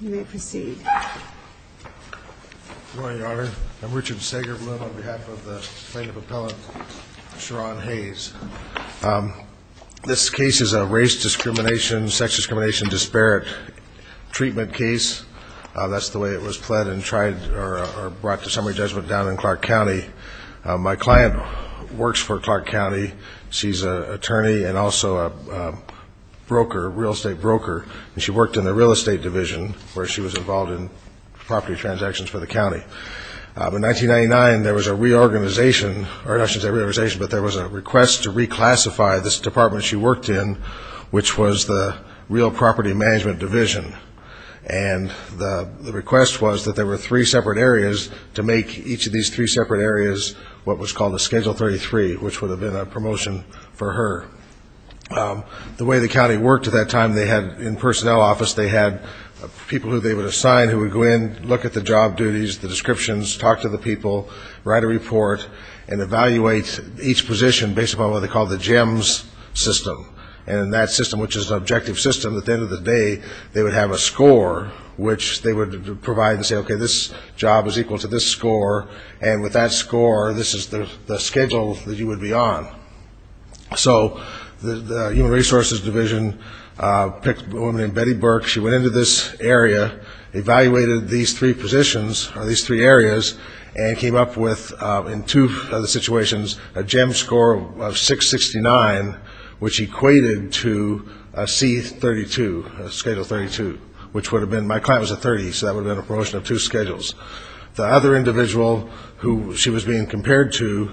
You may proceed. Good morning, Your Honor. I'm Richard Sagerblum on behalf of the plaintiff appellant, Sherron Hayes. This case is a race discrimination, sex discrimination disparate treatment case. That's the way it was pled and tried or brought to summary judgment down in Clark County. My client works for Clark County. She's an attorney and also a broker, a real estate broker, and she worked in the real estate division where she was involved in property transactions for the county. In 1999, there was a reorganization, or not a reorganization, but there was a request to reclassify this department she worked in, which was the real property management division. And the request was that there were three separate areas to make each of these three separate areas what was called a Schedule 33, which would have been a promotion for her. The way the county worked at that time, they had in personnel office, they had people who they would assign who would go in, look at the job duties, the descriptions, talk to the people, write a report, and evaluate each position based upon what they called the GEMS system. And in that system, which is an objective system, at the end of the day, they would have a score, which they would provide and say, okay, this job is equal to this score, and with that score, this is the schedule that you would be on. So the human resources division picked a woman named Betty Burke, she went into this area, evaluated these three positions, or these three areas, and came up with, in two of the situations, a GEMS score of 669, which equated to a C32, a Schedule 32, which would have been my client was a 30, so that would have been a promotion of two schedules. The other individual who she was being compared to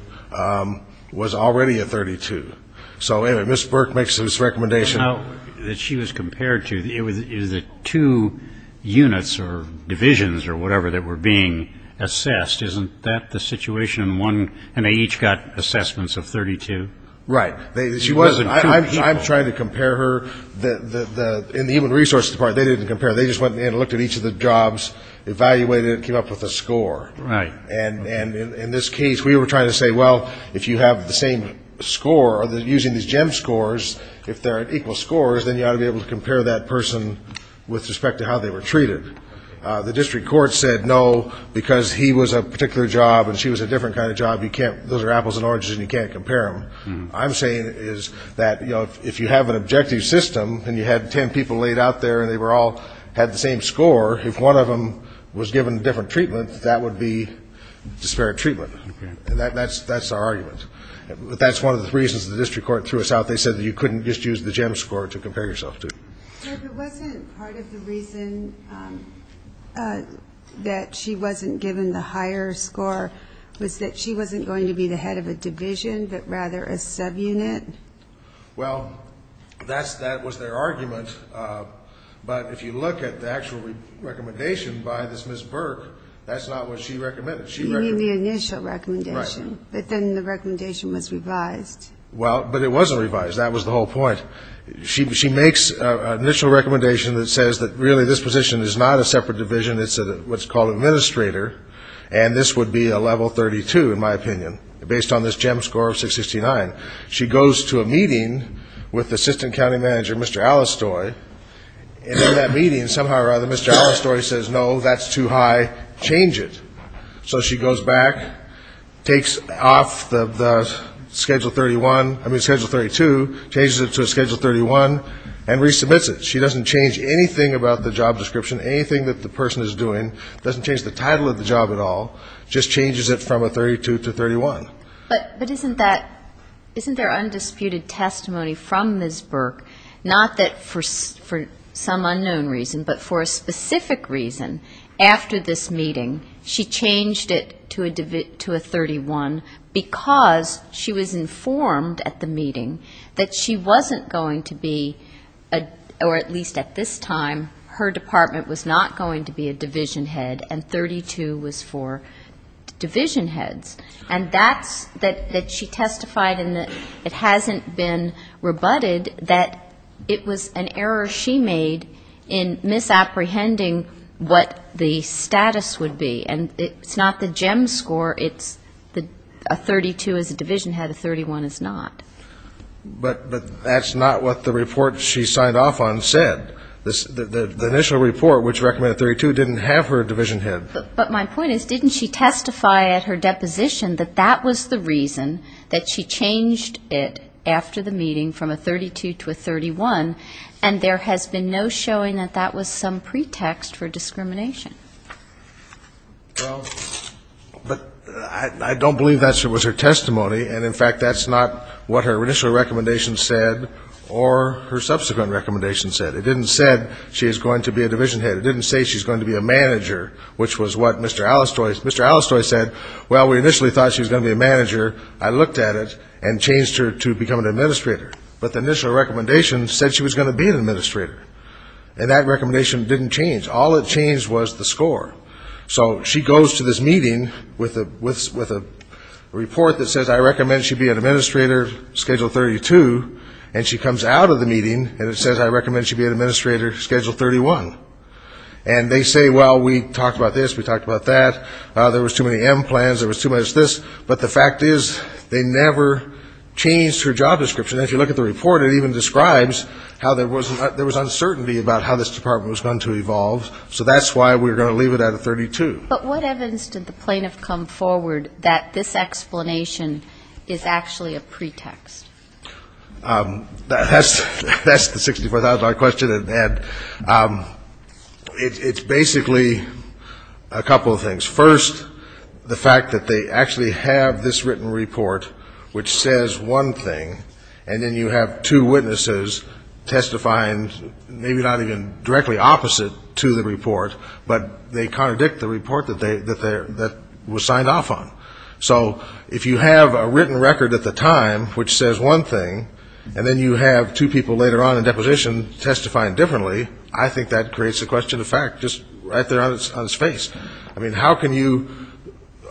was already a 32. So anyway, Ms. Burke makes this recommendation. Now that she was compared to, it was the two units or divisions or whatever that were being assessed, isn't that the situation in one, and they each got assessments of 32? Right. She wasn't. I'm trying to compare her. In the human resources department, they didn't compare. They just went in and looked at each of the jobs, evaluated it, came up with a score. Right. And in this case, we were trying to say, well, if you have the same score, using these GEMS scores, if they're at equal scores, then you ought to be able to compare that person with respect to how they were treated. The district court said no, because he was a particular job and she was a different kind of job, you can't, those are apples and oranges and you can't compare them. I'm saying is that, you know, if you have an objective system and you had ten people laid out there and they all had the same score, if one of them was given a different treatment, that would be disparate treatment. Okay. And that's our argument. That's one of the reasons the district court threw us out. They said that you couldn't just use the GEMS score to compare yourself to. But wasn't part of the reason that she wasn't given the higher score was that she wasn't going to be the head of a division, but rather a subunit? Well, that was their argument. But if you look at the actual recommendation by this Ms. Burke, that's not what she recommended. You mean the initial recommendation. Right. But then the recommendation was revised. Well, but it wasn't revised. That was the whole point. She makes an initial recommendation that says that really this position is not a separate division, based on this GEMS score of 669. She goes to a meeting with the assistant county manager, Mr. Allistoy, and in that meeting somehow or other Mr. Allistoy says, no, that's too high, change it. So she goes back, takes off the Schedule 31, I mean Schedule 32, changes it to a Schedule 31, and resubmits it. She doesn't change anything about the job description, anything that the person is doing, doesn't change the title of the job at all, just changes it from a 32 to 31. But isn't that, isn't there undisputed testimony from Ms. Burke, not that for some unknown reason, but for a specific reason after this meeting she changed it to a 31 because she was informed at the meeting that she wasn't going to be, or at least at this time, her department was not going to be a division head and 32 was for division heads. And that's that she testified and it hasn't been rebutted that it was an error she made in misapprehending what the status would be. And it's not the GEMS score, it's a 32 is a division head, a 31 is not. But that's not what the report she signed off on said. The initial report which recommended 32 didn't have her a division head. But my point is didn't she testify at her deposition that that was the reason that she changed it after the meeting from a 32 to a 31, and there has been no showing that that was some pretext for discrimination. Well, but I don't believe that was her testimony. And, in fact, that's not what her initial recommendation said or her subsequent recommendation said. It didn't say she's going to be a division head. It didn't say she's going to be a manager, which was what Mr. Allistoy said. Well, we initially thought she was going to be a manager. I looked at it and changed her to become an administrator. But the initial recommendation said she was going to be an administrator. And that recommendation didn't change. All it changed was the score. So she goes to this meeting with a report that says I recommend she be an administrator, schedule 32, and she comes out of the meeting and it says I recommend she be an administrator, schedule 31. And they say, well, we talked about this, we talked about that. There was too many M plans, there was too much this. But the fact is they never changed her job description. As you look at the report, it even describes how there was uncertainty about how this department was going to evolve. So that's why we were going to leave it at a 32. But what evidence did the plaintiff come forward that this explanation is actually a pretext? That's the $64,000 question, and it's basically a couple of things. First, the fact that they actually have this written report which says one thing, and then you have two witnesses testifying maybe not even directly opposite to the report, but they contradict the report that was signed off on. So if you have a written record at the time which says one thing, and then you have two people later on in deposition testifying differently, I think that creates a question of fact just right there on its face. I mean, how can you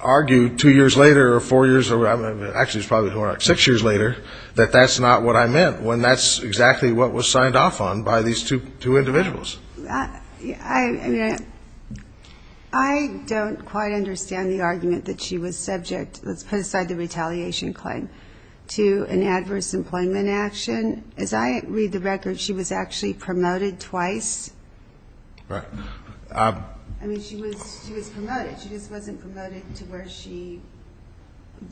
argue two years later or four years, actually it's probably more like six years later, that that's not what I meant when that's exactly what was signed off on by these two individuals? I mean, I don't quite understand the argument that she was subject, let's put aside the retaliation claim, to an adverse employment action. As I read the record, she was actually promoted twice. Right. I mean, she was promoted. She just wasn't promoted to where she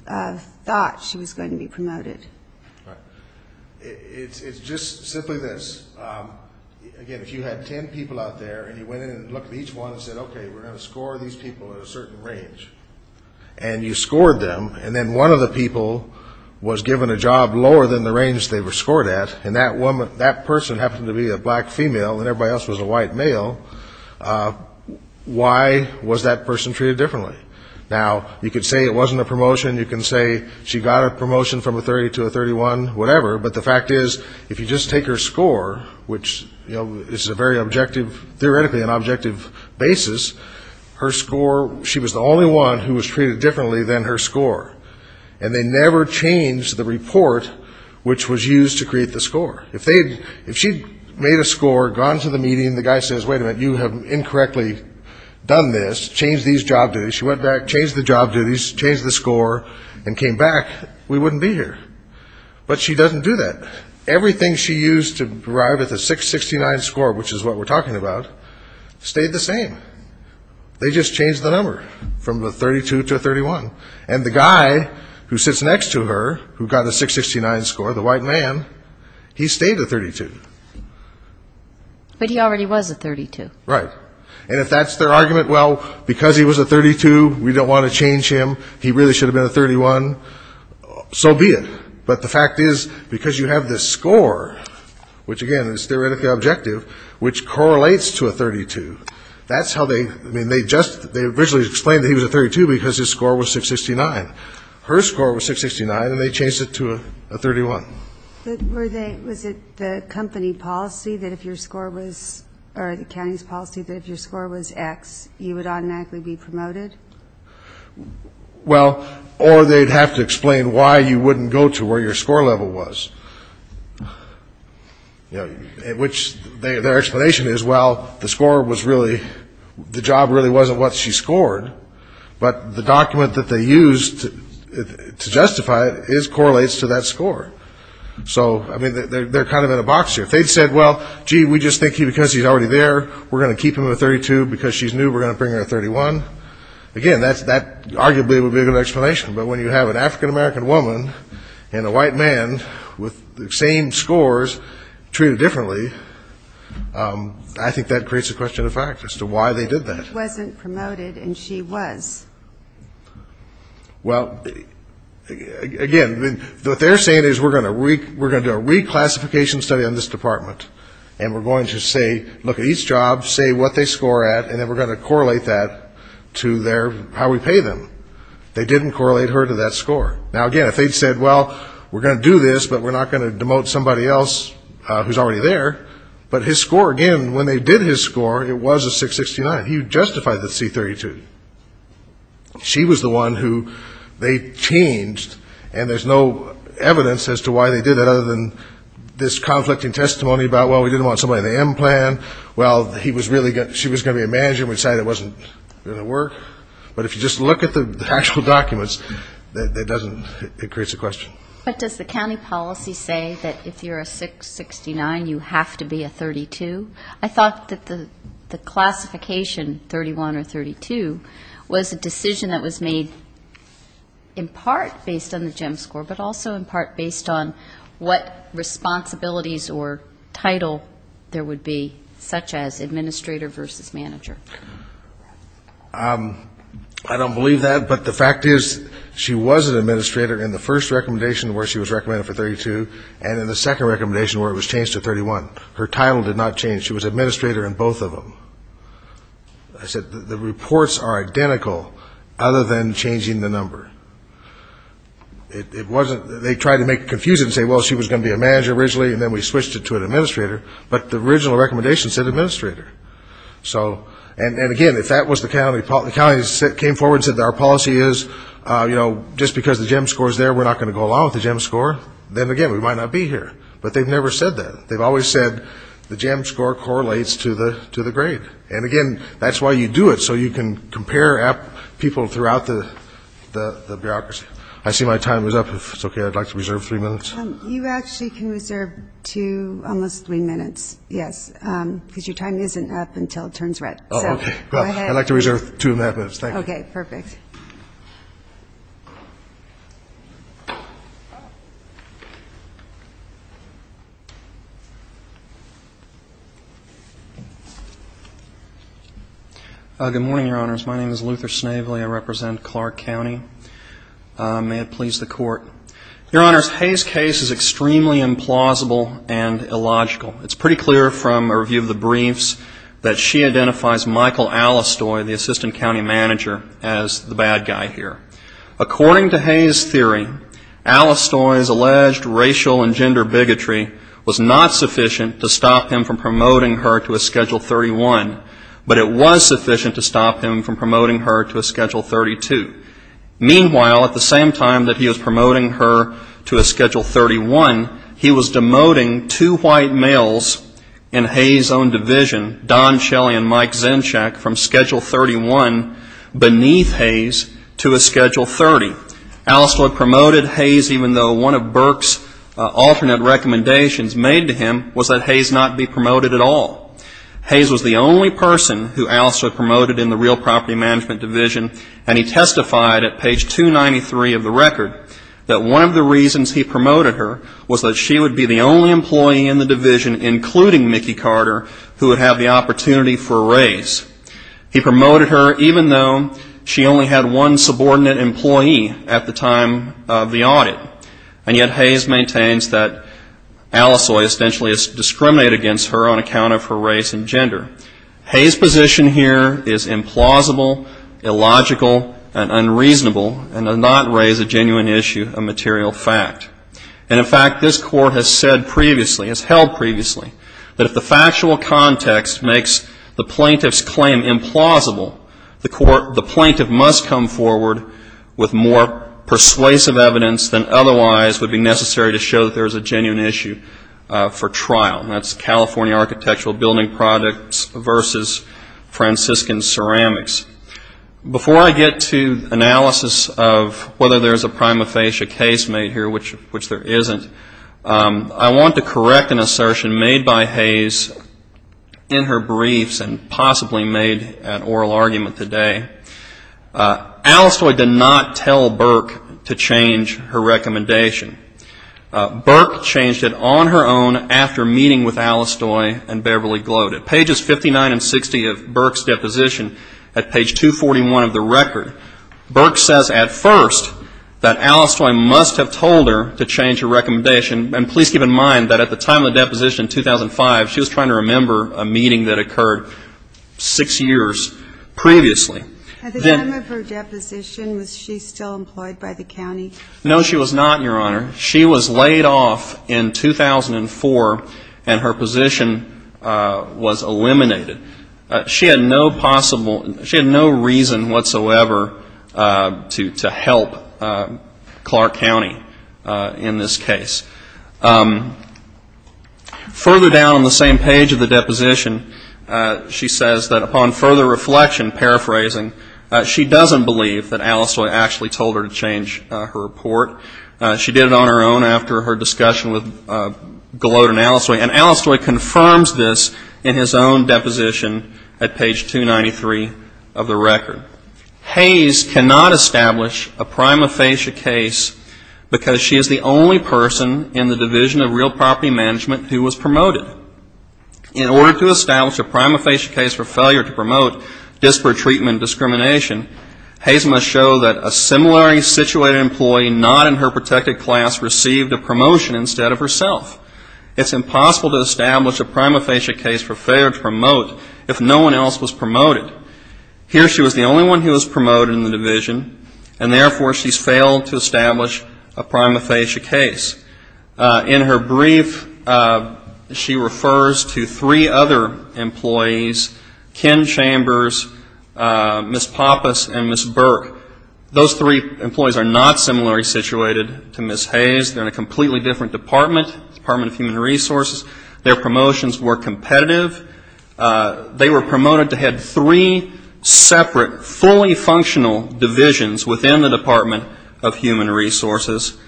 thought she was going to be promoted. Right. It's just simply this. Again, if you had ten people out there, and you went in and looked at each one and said, okay, we're going to score these people at a certain range, and you scored them, and then one of the people was given a job lower than the range they were scored at, and that person happened to be a black female and everybody else was a white male, why was that person treated differently? Now, you could say it wasn't a promotion. You can say she got a promotion from a 30 to a 31, whatever. But the fact is, if you just take her score, which is a very objective, theoretically an objective basis, her score, she was the only one who was treated differently than her score. And they never changed the report which was used to create the score. If she had made a score, gone to the meeting, the guy says, wait a minute, you have incorrectly done this, changed these job duties, she went back, changed the job duties, changed the score, and came back, we wouldn't be here. But she doesn't do that. Everything she used to arrive at the 669 score, which is what we're talking about, stayed the same. They just changed the number from a 32 to a 31. And the guy who sits next to her who got a 669 score, the white man, he stayed a 32. But he already was a 32. Right. And if that's their argument, well, because he was a 32, we don't want to change him, he really should have been a 31, so be it. But the fact is, because you have this score, which again is theoretically objective, which correlates to a 32, that's how they, I mean, they just, they originally explained that he was a 32 because his score was 669. Her score was 669, and they changed it to a 31. Were they, was it the company policy that if your score was, or the county's policy that if your score was X, you would automatically be promoted? Well, or they'd have to explain why you wouldn't go to where your score level was. You know, which their explanation is, well, the score was really, the job really wasn't what she scored, but the document that they used to justify it correlates to that score. So, I mean, they're kind of in a box here. If they'd said, well, gee, we just think because he's already there, we're going to keep him a 32 because she's new, we're going to bring her a 31, again, that arguably would be a good explanation. But when you have an African-American woman and a white man with the same scores treated differently, I think that creates a question of fact as to why they did that. He wasn't promoted and she was. Well, again, what they're saying is we're going to do a reclassification study on this department, and we're going to say, look at each job, say what they score at, and then we're going to correlate that to their, how we pay them. They didn't correlate her to that score. Now, again, if they'd said, well, we're going to do this, but we're not going to demote somebody else who's already there, but his score, again, when they did his score, it was a 669. He justified the C32. She was the one who they changed, and there's no evidence as to why they did that, other than this conflicting testimony about, well, we didn't want somebody in the M plan, well, she was going to be a manager, and we decided it wasn't going to work. But if you just look at the actual documents, it doesn't, it creates a question. But does the county policy say that if you're a 669, you have to be a 32? I thought that the classification 31 or 32 was a decision that was made in part based on the GEM score, but also in part based on what responsibilities or title there would be, such as administrator versus manager. I don't believe that, but the fact is she was an administrator in the first recommendation where she was recommended for 32, and in the second recommendation where it was changed to 31. Her title did not change. She was administrator in both of them. I said the reports are identical, other than changing the number. It wasn't, they tried to make it confusing and say, well, she was going to be a manager originally, and then we switched it to an administrator, but the original recommendation said administrator. And, again, if that was the county, the county came forward and said our policy is, you know, just because the GEM score is there, we're not going to go along with the GEM score, then, again, we might not be here. But they've never said that. They've always said the GEM score correlates to the grade. And, again, that's why you do it, so you can compare people throughout the bureaucracy. I see my time is up. If it's okay, I'd like to reserve three minutes. You actually can reserve two, almost three minutes, yes, because your time isn't up until it turns red. Oh, okay. Go ahead. I'd like to reserve two and a half minutes. Thank you. Okay, perfect. Good morning, Your Honors. My name is Luther Snavely. I represent Clark County. May it please the Court. Your Honors, Hay's case is extremely implausible and illogical. It's pretty clear from a review of the briefs that she identifies Michael Allistoy, the assistant county manager, as the bad guy here. According to Hay's theory, Allistoy's alleged racial and gender bigotry was not sufficient to stop him from promoting her to a Schedule 31, but it was sufficient to stop him from promoting her to a Schedule 32. Meanwhile, at the same time that he was promoting her to a Schedule 31, he was demoting two white males in Hay's own division, Don Shelley and Mike Zinchak, from Schedule 31 beneath Hay's to a Schedule 30. Allistoy promoted Hay's even though one of Burke's alternate recommendations made to him was that Hay's not be promoted at all. Hay's was the only person who Allistoy promoted in the real property management division, and he testified at page 293 of the record that one of the reasons he promoted her was that she would be the only employee in the division, including Mickey Carter, who would have the opportunity for a raise. He promoted her even though she only had one subordinate employee at the time of the audit. And yet Hay's maintains that Allistoy essentially discriminated against her on account of her race and gender. Hay's position here is implausible, illogical, and unreasonable, and does not raise a genuine issue of material fact. And in fact, this Court has said previously, has held previously, that if the factual context makes the plaintiff's claim implausible, the plaintiff must come forward with more persuasive evidence than otherwise would be necessary to show that there is a genuine issue for trial. And that's California Architectural Building Projects versus Franciscan Ceramics. Before I get to analysis of whether there's a prima facie case made here, which there isn't, I want to correct an assertion made by Hay's in her briefs and possibly made at oral argument today. Allistoy did not tell Burke to change her recommendation. Burke changed it on her own after meeting with Allistoy and Beverly Gloat. At pages 59 and 60 of Burke's deposition, at page 241 of the record, Burke says at first that Allistoy must have told her to change her recommendation. And please keep in mind that at the time of the deposition in 2005, she was trying to remember a meeting that occurred six years previously. At the time of her deposition, was she still employed by the county? No, she was not, Your Honor. She was laid off in 2004, and her position was eliminated. She had no reason whatsoever to help Clark County in this case. Further down on the same page of the deposition, she says that upon further reflection, paraphrasing, she doesn't believe that Allistoy actually told her to change her report. She did it on her own after her discussion with Gloat and Allistoy. And Allistoy confirms this in his own deposition at page 293 of the record. Hayes cannot establish a prima facie case because she is the only person in the Division of Real Property Management who was promoted. In order to establish a prima facie case for failure to promote disparate treatment and discrimination, Hayes must show that a similarly situated employee not in her protected class received a promotion instead of herself. It's impossible to establish a prima facie case for failure to promote if no one else was promoted. Here she was the only one who was promoted in the Division, and therefore she's failed to establish a prima facie case. In her brief, she refers to three other employees, Ken Chambers, Ms. Pappas, and Ms. Burke. Those three employees are not similarly situated to Ms. Hayes. They're in a completely different department, Department of Human Resources. Their promotions were competitive. They were promoted to head three separate fully functional divisions within the Department of Human Resources.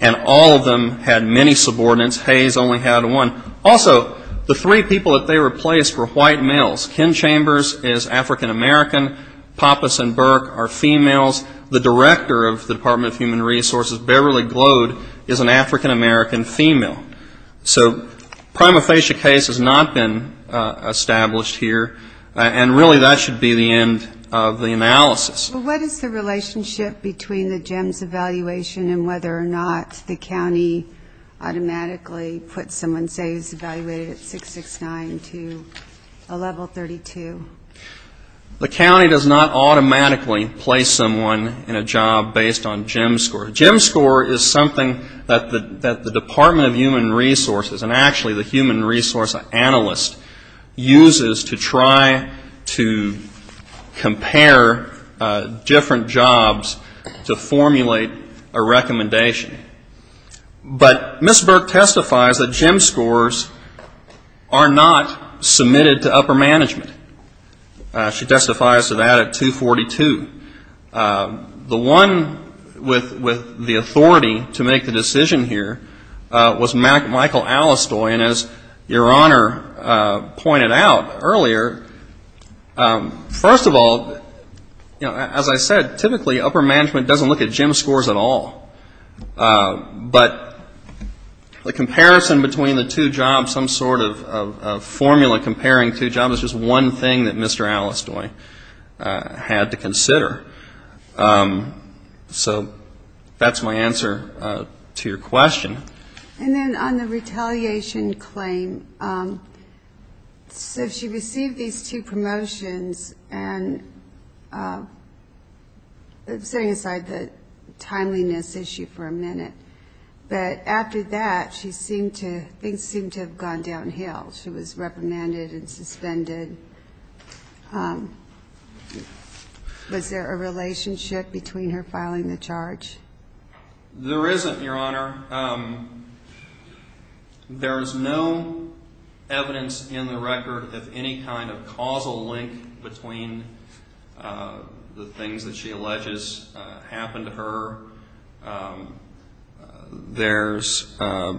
And all of them had many subordinates. Hayes only had one. Also, the three people that they replaced were white males. Ken Chambers is African American. Pappas and Burke are females. The director of the Department of Human Resources, Beverly Glode, is an African American female. So prima facie case has not been established here. And really that should be the end of the analysis. But what is the relationship between the GEMS evaluation and whether or not the county automatically puts someone, say, who's evaluated at 669 to a level 32? The county does not automatically place someone in a job based on GEMS score. GEMS score is something that the Department of Human Resources, and actually the human resource analyst, uses to try to compare different jobs to formulate a recommendation. But Ms. Burke testifies that GEMS scores are not submitted to upper management. She testifies to that at 242. The one with the authority to make the decision here was Michael Allistoy. And as Your Honor pointed out earlier, first of all, as I said, typically upper management doesn't look at GEMS scores at all. But the comparison between the two jobs, some sort of formula comparing two jobs, is just one thing that Mr. Allistoy had to consider. So that's my answer to your question. And then on the retaliation claim, so she received these two promotions, and setting aside the timeliness issue for a minute, but after that, she seemed to go downhill. She was reprimanded and suspended. Was there a relationship between her filing the charge? There isn't, Your Honor. Your Honor, there is no evidence in the record of any kind of causal link between the things that she alleges happened to her. There's, I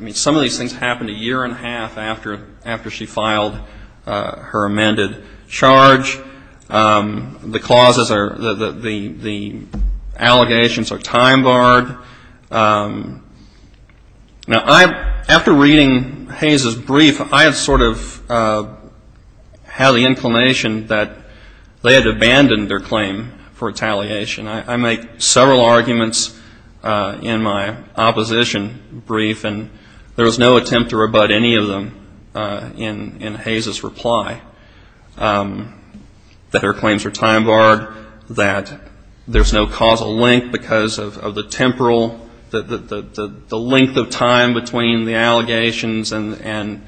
mean, some of these things happened a year and a half after she filed her amended charge. The clauses are, the allegations are time barred. Now, after reading Hayes' brief, I sort of had the inclination that they had abandoned their claim for retaliation. I make several arguments in my opposition brief, and there was no attempt to rebut any of them in Hayes' reply. That her claims were time barred, that there's no causal link because of the temporal, the length of time between the allegations and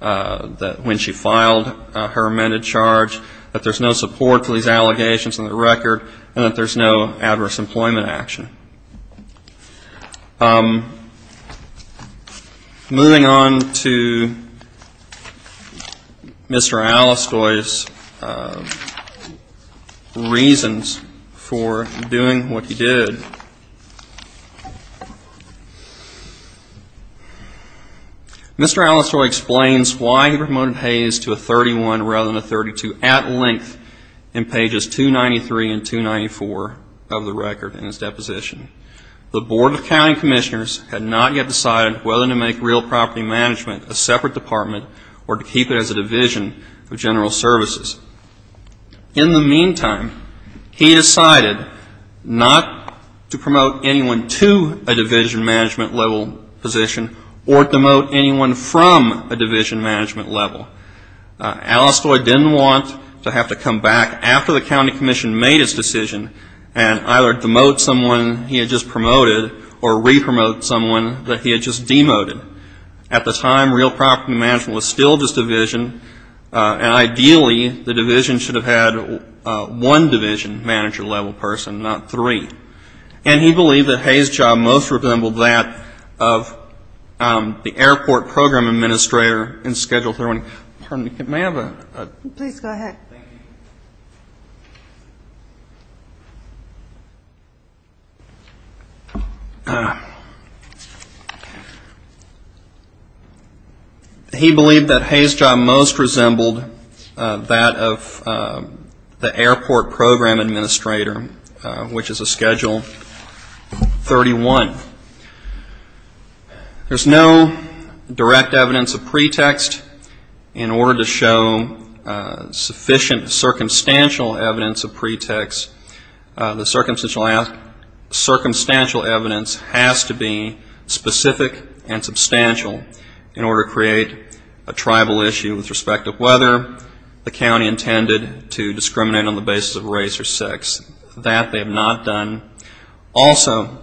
when she filed her amended charge, that there's no support for these allegations in the record, and that there's no adverse employment action. Moving on to Mr. Allistoy's reasons for doing what he did. Mr. Allistoy explains why he promoted Hayes to a 31 rather than a 32 at length in pages 293 and 294 of the record in his deposition. The Board of County Commissioners had not yet decided whether to make real property management a separate department or to keep it as a division of general services. In the meantime, he decided not to promote anyone to a division management level position or demote anyone from a division management level. Allistoy didn't want to have to come back after the county commission made its decision and either demote someone he had just promoted or re-promote someone that he had just demoted. At the time, real property management was still just division, and ideally the division should have had one division manager level person, not three. And he believed that Hayes' job most resembled that of the airport program administrator in Schedule 31. Pardon me. May I have a? Please go ahead. Thank you. He believed that Hayes' job most resembled that of the airport program administrator, which is a Schedule 31. There's no direct evidence of pretext. In order to show sufficient circumstantial evidence of pretext, the circumstantial evidence has to be specific and substantial in order to create a tribal issue with respect to whether the county intended to discriminate on the basis of race or sex. That they have not done. Also,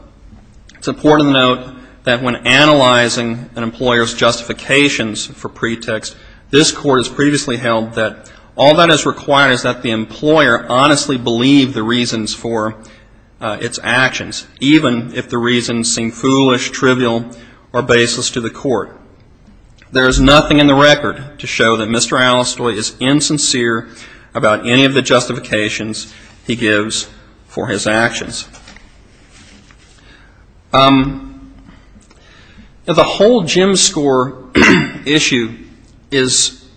it's important to note that when analyzing an employer's justifications for pretext, this court has previously held that all that is required is that the employer honestly believe the reasons for its actions, even if the reasons seem foolish, trivial, or baseless to the court. There is nothing in the record to show that Mr. Allistoy is insincere about any of the justifications he gives for his actions. The whole Jim score issue is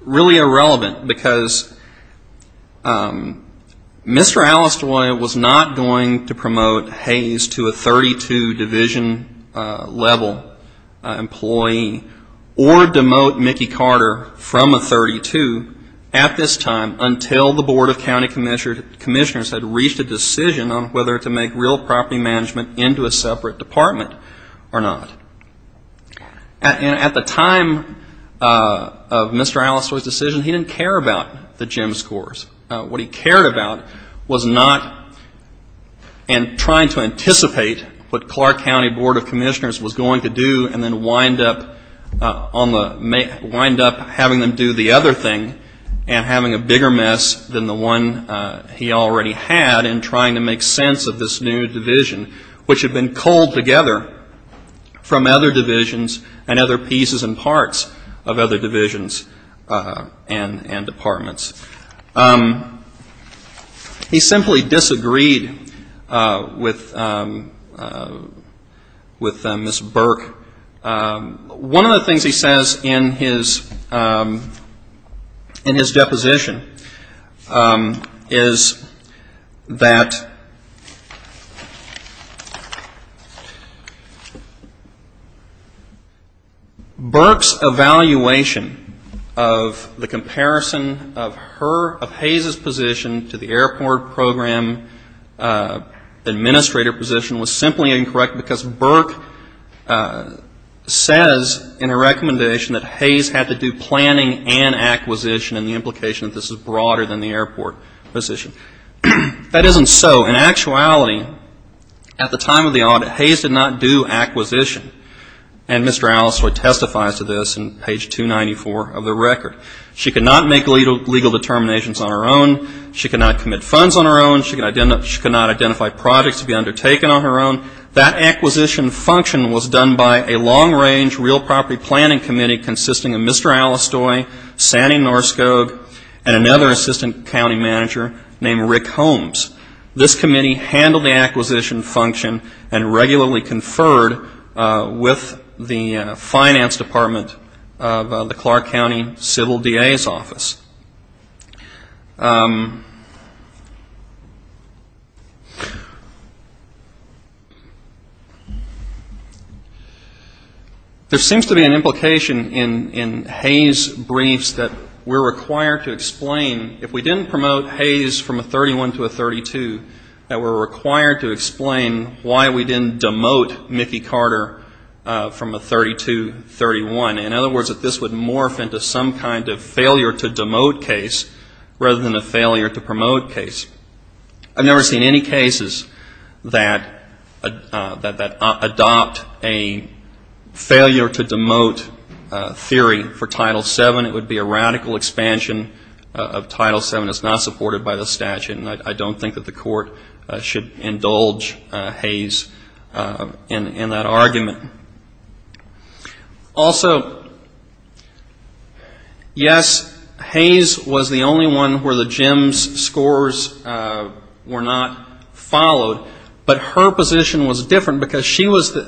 really irrelevant because Mr. Allistoy was not going to promote Hayes to a 32-division level employee or demote Mickey Carter from a 32 at this time until the Board of County Commissioners had reached a decision on whether to make real property management into a separate department or not. At the time of Mr. Allistoy's decision, he didn't care about the Jim scores. What he cared about was not in trying to anticipate what Clark County Board of Commissioners was going to do and then wind up having them do the other thing and having a bigger mess than the one he already had in trying to make sense of this new division, which had been culled together from other divisions and other pieces and parts of other divisions and departments. He simply disagreed with Ms. Burke. One of the things he says in his deposition is that, Burke's evaluation of the comparison of Hayes' position to the airport program administrator position was simply incorrect because Burke says in a recommendation that Hayes had to do planning and acquisition in the implication that this is broader than the airport position. If that isn't so, in actuality, at the time of the audit, Hayes did not do acquisition. And Mr. Allistoy testifies to this in page 294 of the record. She could not make legal determinations on her own. She could not commit funds on her own. She could not identify projects to be undertaken on her own. That acquisition function was done by a long-range real property planning committee consisting of Mr. Allistoy, Sandy Norskog, and another assistant county manager named Rick Holmes. This committee handled the acquisition function and regularly conferred with the finance department of the Clark County Civil DA's office. There seems to be an implication in Hayes' briefs that we're required to explain, if we didn't promote Hayes from a 31 to a 32, that we're required to explain why we didn't demote Mickey Carter from a 32-31. In other words, that this would morph into some kind of failure-to-demote case rather than a failure-to-promote case. I've never seen any cases that adopt a failure-to-demote theory for Title VII. It would be a radical expansion of Title VII. It's not supported by the statute, and I don't think that the court should indulge Hayes in that argument. Also, yes, Hayes was the only one where the Jim's scores were not followed, but her position was different, because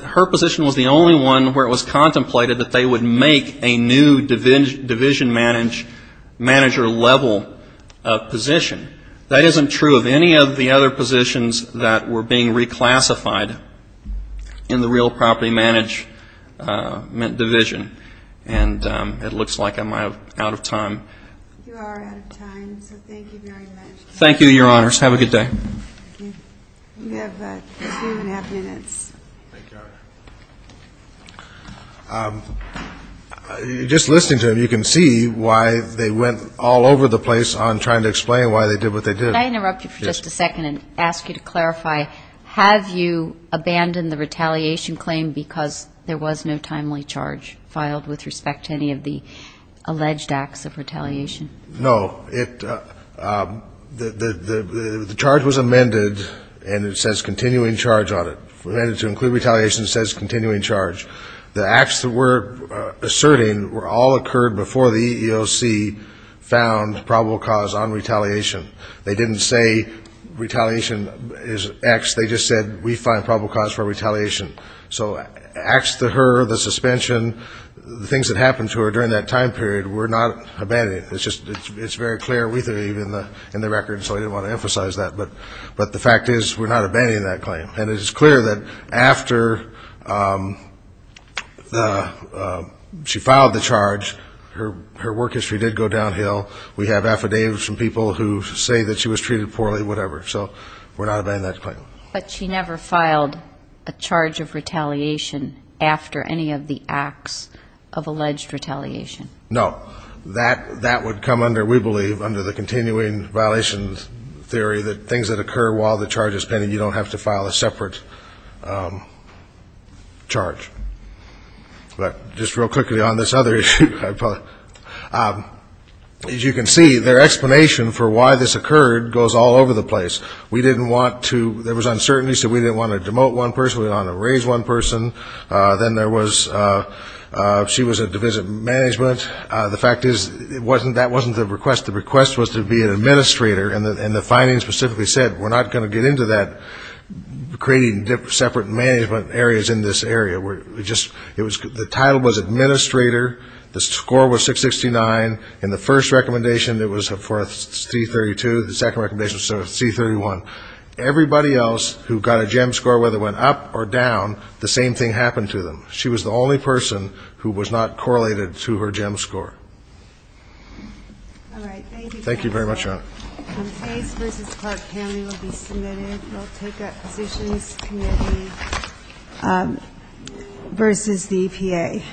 her position was the only one where it was contemplated that they would make a new division manager level position. That isn't true of any of the other positions that were being reclassified in the real property management system. It's true of the property management division, and it looks like I'm out of time. Thank you, Your Honors. Have a good day. Just listening to them, you can see why they went all over the place on trying to explain why they did what they did. Could I interrupt you for just a second and ask you to clarify, have you abandoned the retaliation claim because there was no timely charge filed with respect to any of the alleged acts of retaliation? No. The charge was amended, and it says continuing charge on it. For them to include retaliation, it says continuing charge. The acts that we're asserting all occurred before the EEOC found probable cause on retaliation. They didn't say retaliation is X, they just said we find probable cause for retaliation. So acts to her, the suspension, the things that happened to her during that time period, we're not abandoning. It's very clear we believe in the record, so I didn't want to emphasize that, but the fact is we're not abandoning that claim. And it is clear that after the, she filed the charge, her work history did go downhill. We have affidavits from people who say that she was treated poorly, whatever. So we're not abandoning that claim. But she never filed a charge of retaliation after any of the acts of alleged retaliation? No. That would come under, we believe, under the continuing violations theory, that things that occur while the charge is pending, you don't have to file a separate charge. But just real quickly on this other issue. As you can see, their explanation for why this occurred goes all over the place. We didn't want to, there was uncertainty, so we didn't want to demote one person, we didn't want to raise one person. Then there was, she was a divisive management. The fact is, that wasn't the request. The request was to be an administrator, and the findings specifically said we're not going to get into that, creating separate management areas in this area. The title was administrator, the score was 669, and the first recommendation was for a C32, the second recommendation was a C31. Everybody else who got a GEM score, whether it went up or down, the same thing happened to them. She was the only person who was not correlated to her GEM score. All right. Thank you. Campaigns versus Clark County will be submitted. We'll take up positions, committee versus the EPA. Thank you.